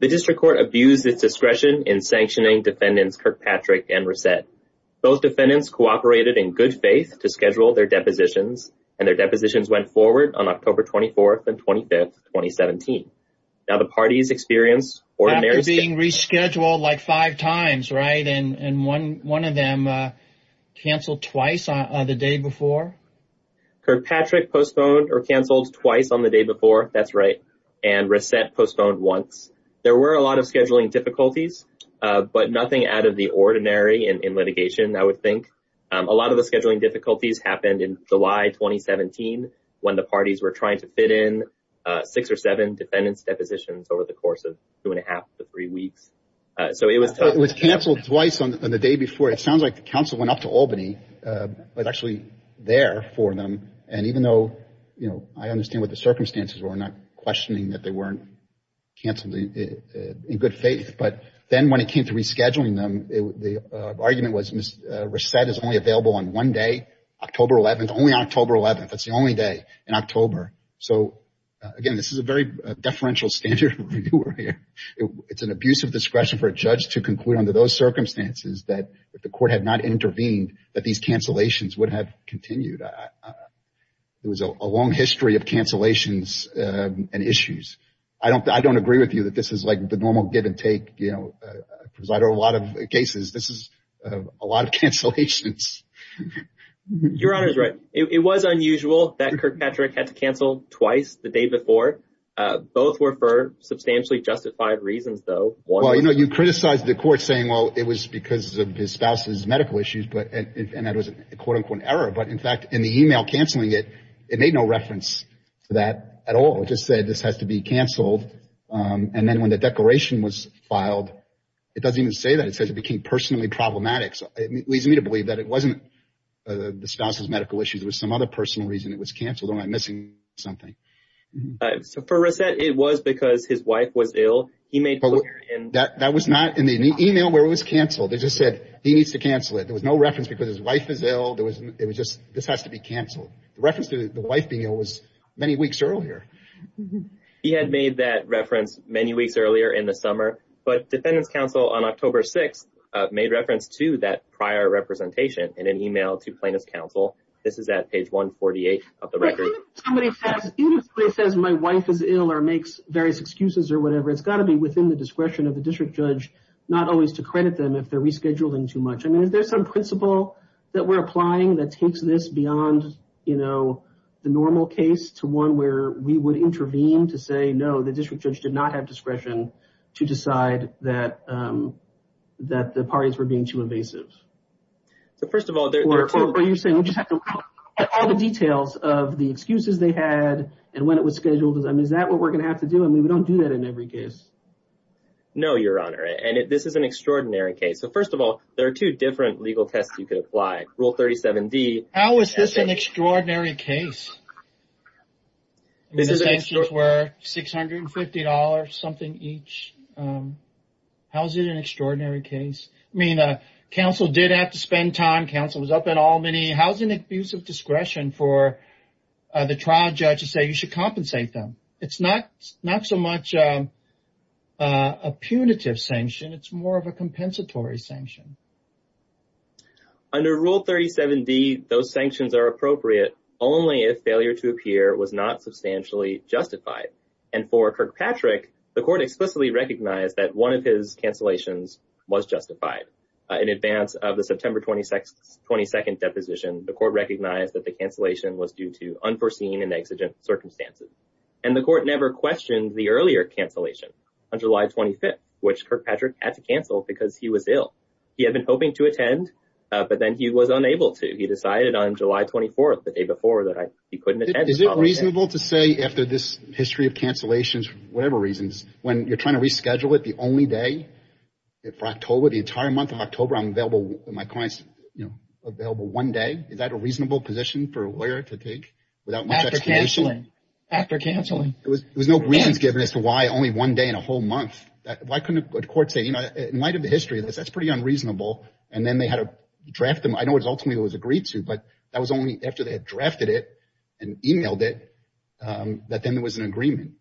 The District Court abused its discretion in sanctioning defendants Kirkpatrick and Resett. Both defendants cooperated in good faith to schedule their depositions, and their depositions went forward on October 24th and 25th, 2017. Now the parties experienced ordinary... After being rescheduled like five times, right? And one of them canceled twice on the day before? Kirkpatrick postponed or canceled twice on the day before, that's right, and Resett postponed once. There were a lot of scheduling difficulties, but nothing out of the ordinary in litigation, I would think. A lot of the scheduling difficulties happened in July, 2017, when the parties were trying to fit in six or seven defendants' depositions over the course of two and a half to three weeks. So it was... It was canceled twice on the day before. It sounds like the counsel went up to Albany, was actually there for them. And even though, I understand what the circumstances were, I'm not questioning that they weren't canceled in good faith. But then when it came to rescheduling them, the argument was Resett is only available on one day, October 11th, only October 11th. That's the only day in October. So again, this is a very deferential standard reviewer here. It's an abuse of discretion for a judge to conclude under those circumstances that if the court had not intervened, that these cancellations would have continued. It was a long history of cancellations and issues. I don't agree with you that this is the normal give and take. Because I know a lot of cases, this is a lot of cancellations. Your Honor is right. It was unusual that Kirkpatrick had to cancel twice the day before. Both were for substantially justified reasons, though. Well, you know, you criticized the court saying, well, it was because of his spouse's medical issues. And that was a quote-unquote error. But in fact, in the email canceling it, it made no reference to that at all. It just said this has to be canceled. And then when the declaration was filed, it doesn't even say that. It says it became personally problematic. So it leads me to believe that it wasn't the spouse's medical issues. It was some other personal reason it was canceled. Or am I missing something? So for Reset, it was because his wife was ill. He made clear in... That was not in the email where it was canceled. It just said he needs to cancel it. There was no reference because his wife is ill. It was just, this has to be canceled. The reference to the many weeks earlier. He had made that reference many weeks earlier in the summer. But Defendant's Counsel on October 6th made reference to that prior representation in an email to Plaintiff's Counsel. This is at page 148 of the record. Even if somebody says my wife is ill or makes various excuses or whatever, it's got to be within the discretion of the district judge not always to credit them if they're rescheduling too much. I mean, is there some principle that we're applying that takes this beyond, you know, the normal case to one where we would intervene to say, no, the district judge did not have discretion to decide that the parties were being too invasive? So first of all... Or you're saying we just have to look at all the details of the excuses they had and when it was scheduled. I mean, is that what we're going to have to do? I mean, we don't do that in every case. No, Your Honor. And this is an extraordinary case. So first of all, there are two different legal tests you could apply. Rule 37D... How is this an extraordinary case? The sanctions were $650 something each. How is it an extraordinary case? I mean, counsel did have to spend time. Counsel was up at all many. How's an abuse of discretion for the trial judge to say you should compensate them? It's not so much a punitive sanction. It's more of a compensatory sanction. Under Rule 37D, those sanctions are appropriate only if failure to appear was not substantially justified. And for Kirkpatrick, the court explicitly recognized that one of his cancellations was justified. In advance of the September 22nd deposition, the court recognized that the cancellation was due to unforeseen and exigent circumstances. And the court never questioned the earlier cancellation on July 25th, which Kirkpatrick had to cancel because he was ill. He had been hoping to attend, but then he was unable to. He decided on July 24th, the day before, that he couldn't attend. Is it reasonable to say after this history of cancellations, for whatever reasons, when you're trying to reschedule it, the only day for October, the entire month of October, I'm available, my clients, you know, available one day. Is that a reasonable position for a lawyer to take without much explanation? After cancelling. There was no reasons given as to why only one day in a whole month. Why couldn't a court say, in light of the history of this, that's pretty unreasonable. And then they had to draft them. I know it was ultimately it was agreed to, but that was only after they had drafted it and emailed it that then there was an agreement.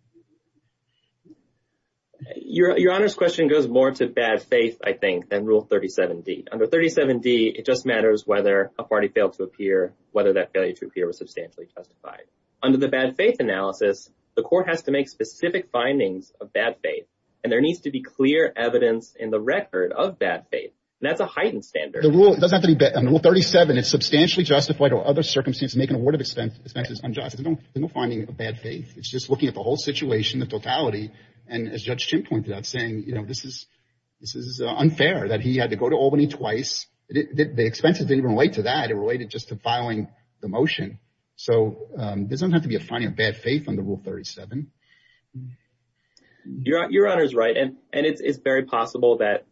Your Honor's question goes more to bad faith, I think, than Rule 37d. Under 37d, it just matters whether a party failed to appear, whether that failure to appear was substantially justified. Under the bad faith analysis, the court has to make specific findings of bad faith, and there the record of bad faith. That's a heightened standard. The rule doesn't have to be bad. On Rule 37, it's substantially justified or other circumstances make an award of expenses unjust. There's no finding of bad faith. It's just looking at the whole situation, the totality. And as Judge Chin pointed out, saying, you know, this is unfair, that he had to go to Albany twice. The expenses didn't relate to that. It related just to filing the motion. So there doesn't have to be a finding of bad faith under Rule 37. Your Honor's right, and it's very possible that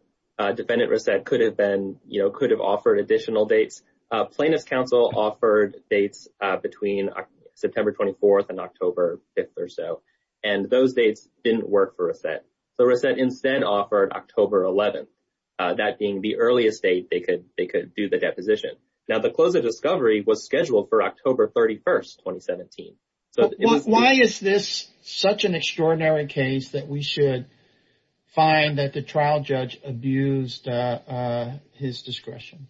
Defendant Resett could have been, you know, could have offered additional dates. Plaintiff's counsel offered dates between September 24th and October 5th or so, and those dates didn't work for Resett. So Resett instead offered October 11th, that being the earliest date they could do the deposition. Now, the close of discovery was scheduled for October 31st, 2017. Why is this such an extraordinary case that we should find that the trial judge abused his discretion?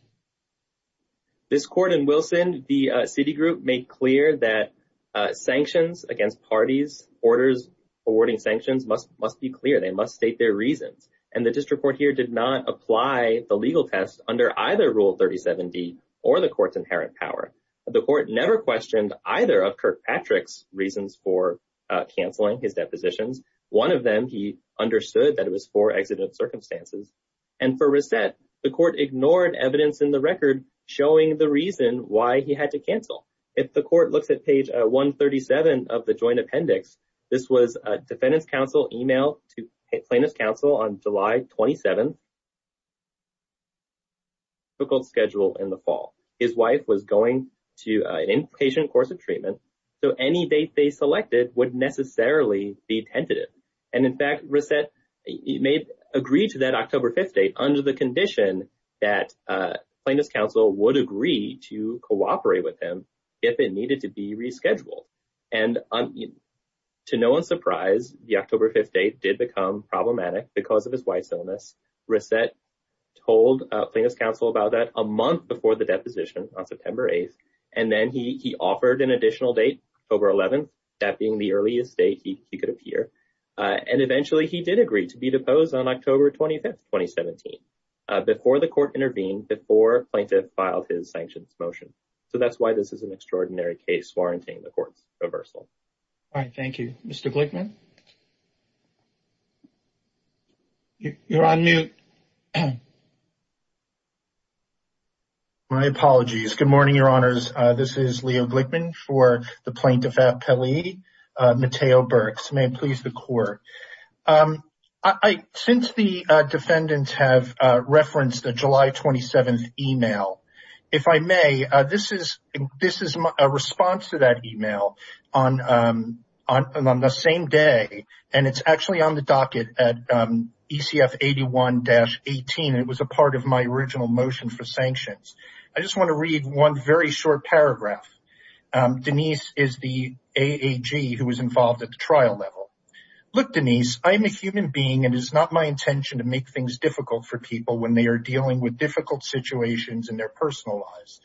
This court in Wilson, the city group made clear that sanctions against parties, orders awarding sanctions must be clear. They must state their reasons. And the district court here did not apply the legal test under either Rule 37D or the court's inherent power. The court never questioned either of Kirkpatrick's reasons for canceling his depositions. One of them, he understood that it was for exigent circumstances. And for Resett, the court ignored evidence in the record showing the reason why he had to cancel. If the court looks at page 137 of the joint appendix, this was a defendant's counsel email to plaintiff's counsel on July 27th. Resett had a difficult schedule in the fall. His wife was going to an inpatient course of treatment. So any date they selected would necessarily be tentative. And in fact, Resett agreed to that October 5th date under the condition that plaintiff's counsel would agree to cooperate with him if it needed to be rescheduled. And to no one's surprise, the October 5th date did become problematic because of his wife's illness. Resett told plaintiff's counsel about that a month before the deposition on September 8th. And then he offered an additional date, October 11th, that being the earliest date he could appear. And eventually he did agree to be deposed on October 25th, 2017, before the court intervened, before plaintiff filed his sanctions motion. So that's why this is an extraordinary case warranting the court's reversal. All right. Thank you. Mr. Glickman? You're on mute. My apologies. Good morning, your honors. This is Leo Glickman for the plaintiff at Pele. Mateo Burks, may it please the court. Since the defendants have referenced a July 27th email, if I may, this is a response to that email on the same day. And it's actually on the docket at ECF 81-18. It was a part of my original motion for sanctions. I just want to read one very short paragraph. Denise is the AAG who was involved at the trial level. Look, Denise, I'm a human being and it's not my intention to make things difficult for people when they are dealing with difficult situations in their personal lives.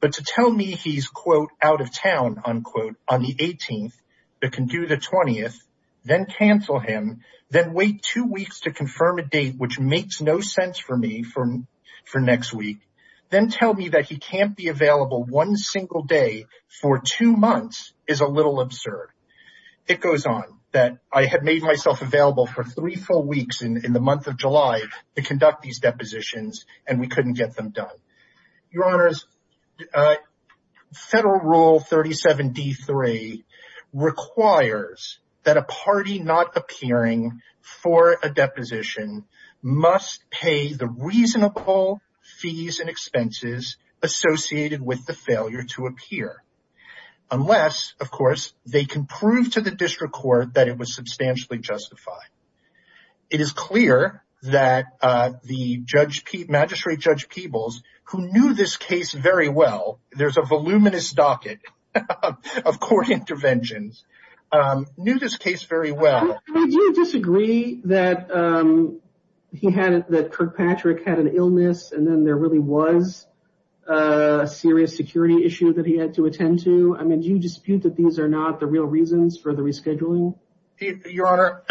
But to tell me he's quote, out of town, unquote, on the 18th, but can do the 20th, then cancel him, then wait two weeks to confirm a date, which makes no sense for me for next week. Then tell me that he can't be available one single day for two months is a little absurd. It goes on that I had made myself available for three full weeks in the month of July. Your honors, federal rule 37-D3 requires that a party not appearing for a deposition must pay the reasonable fees and expenses associated with the failure to appear. Unless, of course, they can prove to the district court that it was substantially justified. It is clear that the Magistrate Judge Peebles, who knew this case very well, there's a voluminous docket of court interventions, knew this case very well. Do you disagree that Kirkpatrick had an illness and then there really was a serious security issue that he had to attend to? I mean, do you dispute that these are not the real reasons for the rescheduling? Your honor,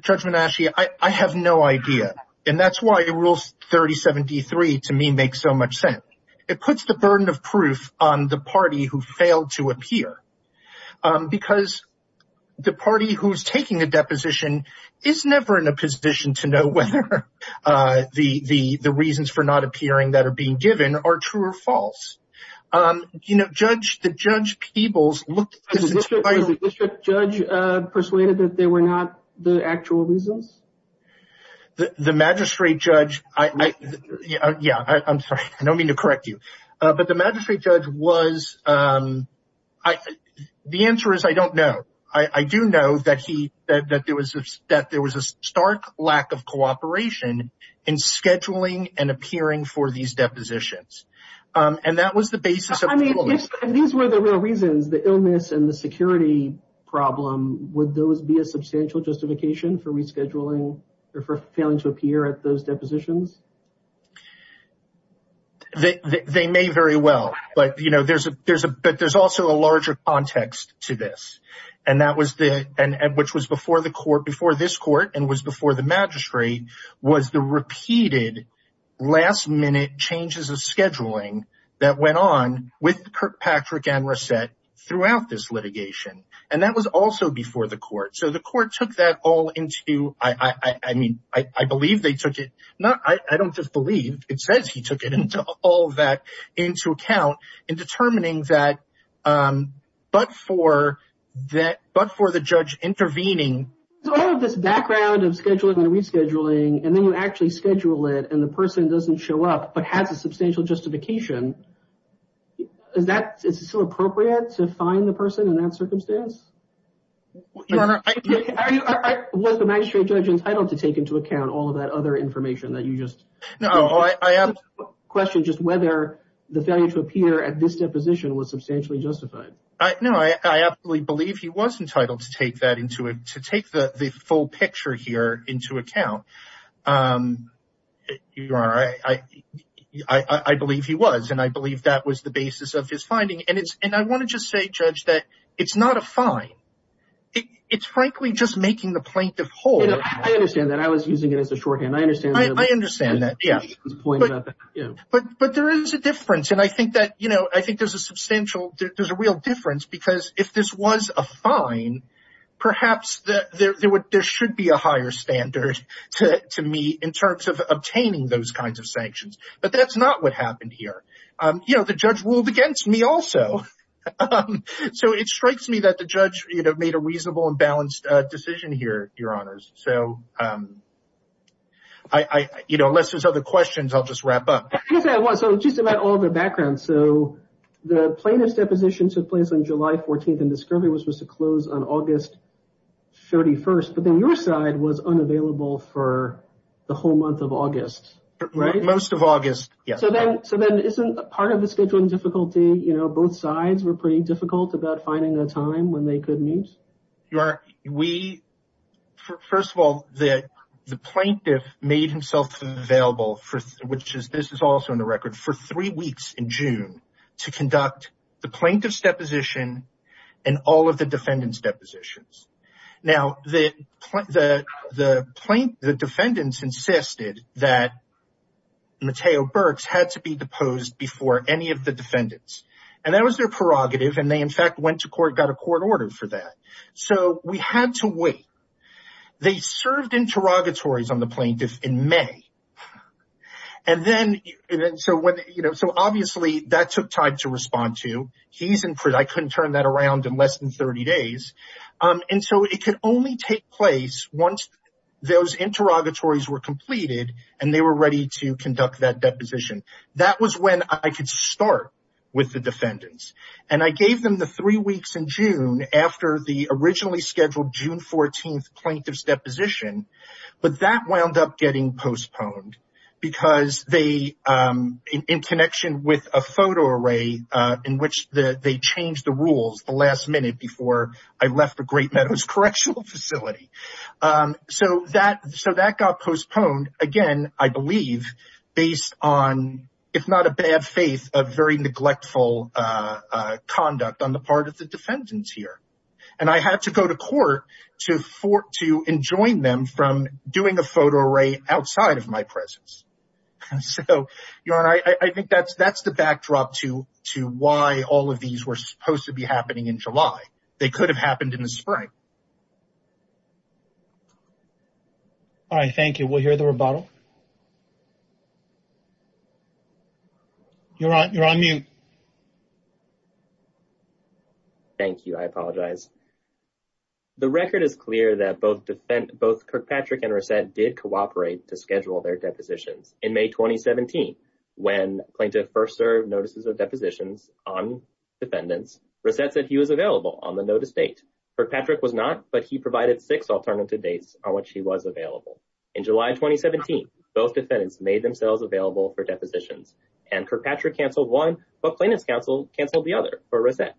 Judge Menasche, I have no idea. And that's why rule 37-D3 to me makes so much sense. It puts the burden of proof on the party who failed to appear. Because the party who's taking a deposition is never in a position to know whether the reasons for not appearing that are being given are true or false. You know, the Judge Peebles looked- The district judge persuaded that they were not the actual reasons? The Magistrate Judge- Yeah, I'm sorry. I don't mean to correct you. But the Magistrate Judge was- The answer is I don't know. I do know that he- that there was a stark lack of cooperation in scheduling and appearing for these depositions. And that was the basis of- I mean, if these were the real reasons, the illness and the security problem, would those be a substantial justification for rescheduling or for failing to appear at those depositions? They may very well. But, you know, there's a- there's a- but there's also a larger context to this. And that was the- and which was before the court- before this court and was before the magistrate was the repeated last minute changes of scheduling that went on with Kirkpatrick and that was also before the court. So the court took that all into- I mean, I believe they took it- not- I don't just believe. It says he took it into- all that into account in determining that- but for that- but for the judge intervening- So all of this background of scheduling and rescheduling and then you actually schedule it and the person doesn't show up but has a You Honor, I- Was the magistrate judge entitled to take into account all of that other information that you just- No, I absolutely- Questioned just whether the failure to appear at this deposition was substantially justified. No, I absolutely believe he was entitled to take that into- to take the full picture here into account. Your Honor, I believe he was and I believe that was the basis of his finding. And I want to just say, Judge, that it's not a fine. It's frankly just making the plaintiff whole. I understand that. I was using it as a shorthand. I understand that. I understand that, yes. But there is a difference and I think that, you know, I think there's a substantial- there's a real difference because if this was a fine, perhaps there should be a higher standard to me in terms of obtaining those kinds of sanctions. But that's not what happened here. You know, the judge ruled against me also. So, it strikes me that the judge, you know, made a reasonable and balanced decision here, Your Honors. So, I- you know, unless there's other questions, I'll just wrap up. I guess I was. So, just about all the background. So, the plaintiff's deposition took place on July 14th and discovery was supposed to close on August 31st. But then your side was unavailable for the whole month of August, right? Most of August, yes. So, then isn't part of the scheduling difficulty, you know, both sides were pretty difficult about finding a time when they could meet? You are- we- first of all, the plaintiff made himself available for- which is- this is also in the record- for three weeks in June to conduct the plaintiff's deposition and all of the defendant's depositions. Now, the- the- the plaint- the defendants insisted that Mateo Burks had to be deposed before any of the defendants. And that was their prerogative. And they, in fact, went to court, got a court order for that. So, we had to wait. They served interrogatories on the plaintiff in May. And then- and then so when, you know, so obviously that took time to respond to. He's in- I couldn't turn that around in less than 30 days. And so, it could only take place once those interrogatories were completed and they were ready to conduct that deposition. That was when I could start with the defendants. And I gave them the three weeks in June after the originally scheduled June 14th plaintiff's deposition. But that wound up getting postponed because they- in connection with a photo array in which the- they changed the rules the last minute before I left the Great Meadows Correctional Facility. So, that- so, that got postponed, again, I believe, based on, if not a bad faith, a very neglectful conduct on the part of the defendants here. And I had to go to court to for- to enjoin them from doing a photo array outside of my presence. So, your honor, I think that's- that's the backdrop to- to why all of these were supposed to be happening in July. They could have happened in the spring. All right, thank you. We'll hear the rebuttal. You're on- you're on mute. Thank you. I apologize. The record is clear that both defen- both Kirkpatrick and Reset did cooperate to schedule their depositions. In May 2017, when plaintiff first served notices of depositions on defendants, Reset said he was available on the notice date. Kirkpatrick was not, but he provided six alternative dates on which he was available. In July 2017, both defendants made themselves available for depositions. And Kirkpatrick canceled one, but plaintiff's counsel canceled the other for Reset.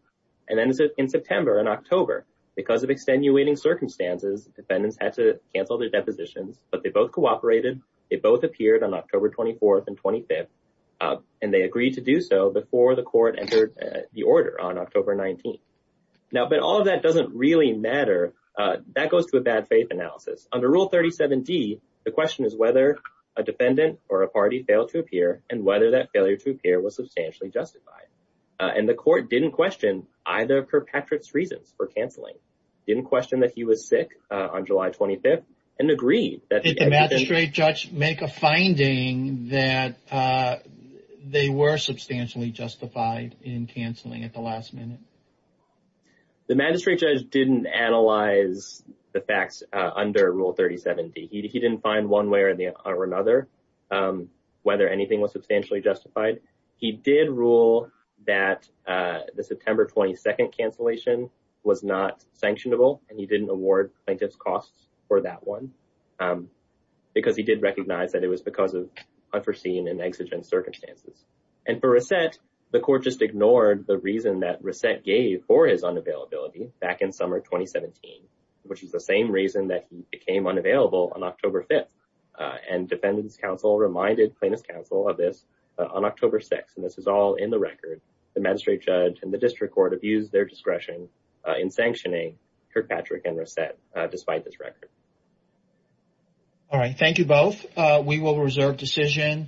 And then in September and October, because of extenuating circumstances, defendants had to cancel their depositions, but they both cooperated. They both appeared on October 24th and 25th, and they agreed to do so before the court entered the order on October 19th. Now, but all of that doesn't really matter. That goes to a bad faith analysis. Under Rule 37d, the question is whether a defendant or a party failed to appear and whether that failure to And the court didn't question either of Kirkpatrick's reasons for canceling. Didn't question that he was sick on July 25th and agreed that- Did the magistrate judge make a finding that they were substantially justified in canceling at the last minute? The magistrate judge didn't analyze the facts under Rule 37d. He didn't find one way or another whether anything was substantially justified. He did rule that the September 22nd cancellation was not sanctionable, and he didn't award plaintiff's costs for that one, because he did recognize that it was because of unforeseen and exigent circumstances. And for Reset, the court just ignored the reason that Reset gave for his unavailability back in summer 2017, which is the same reason that he became unavailable on October 6th. And this is all in the record. The magistrate judge and the district court have used their discretion in sanctioning Kirkpatrick and Reset despite this record. All right. Thank you both. We will reserve decision.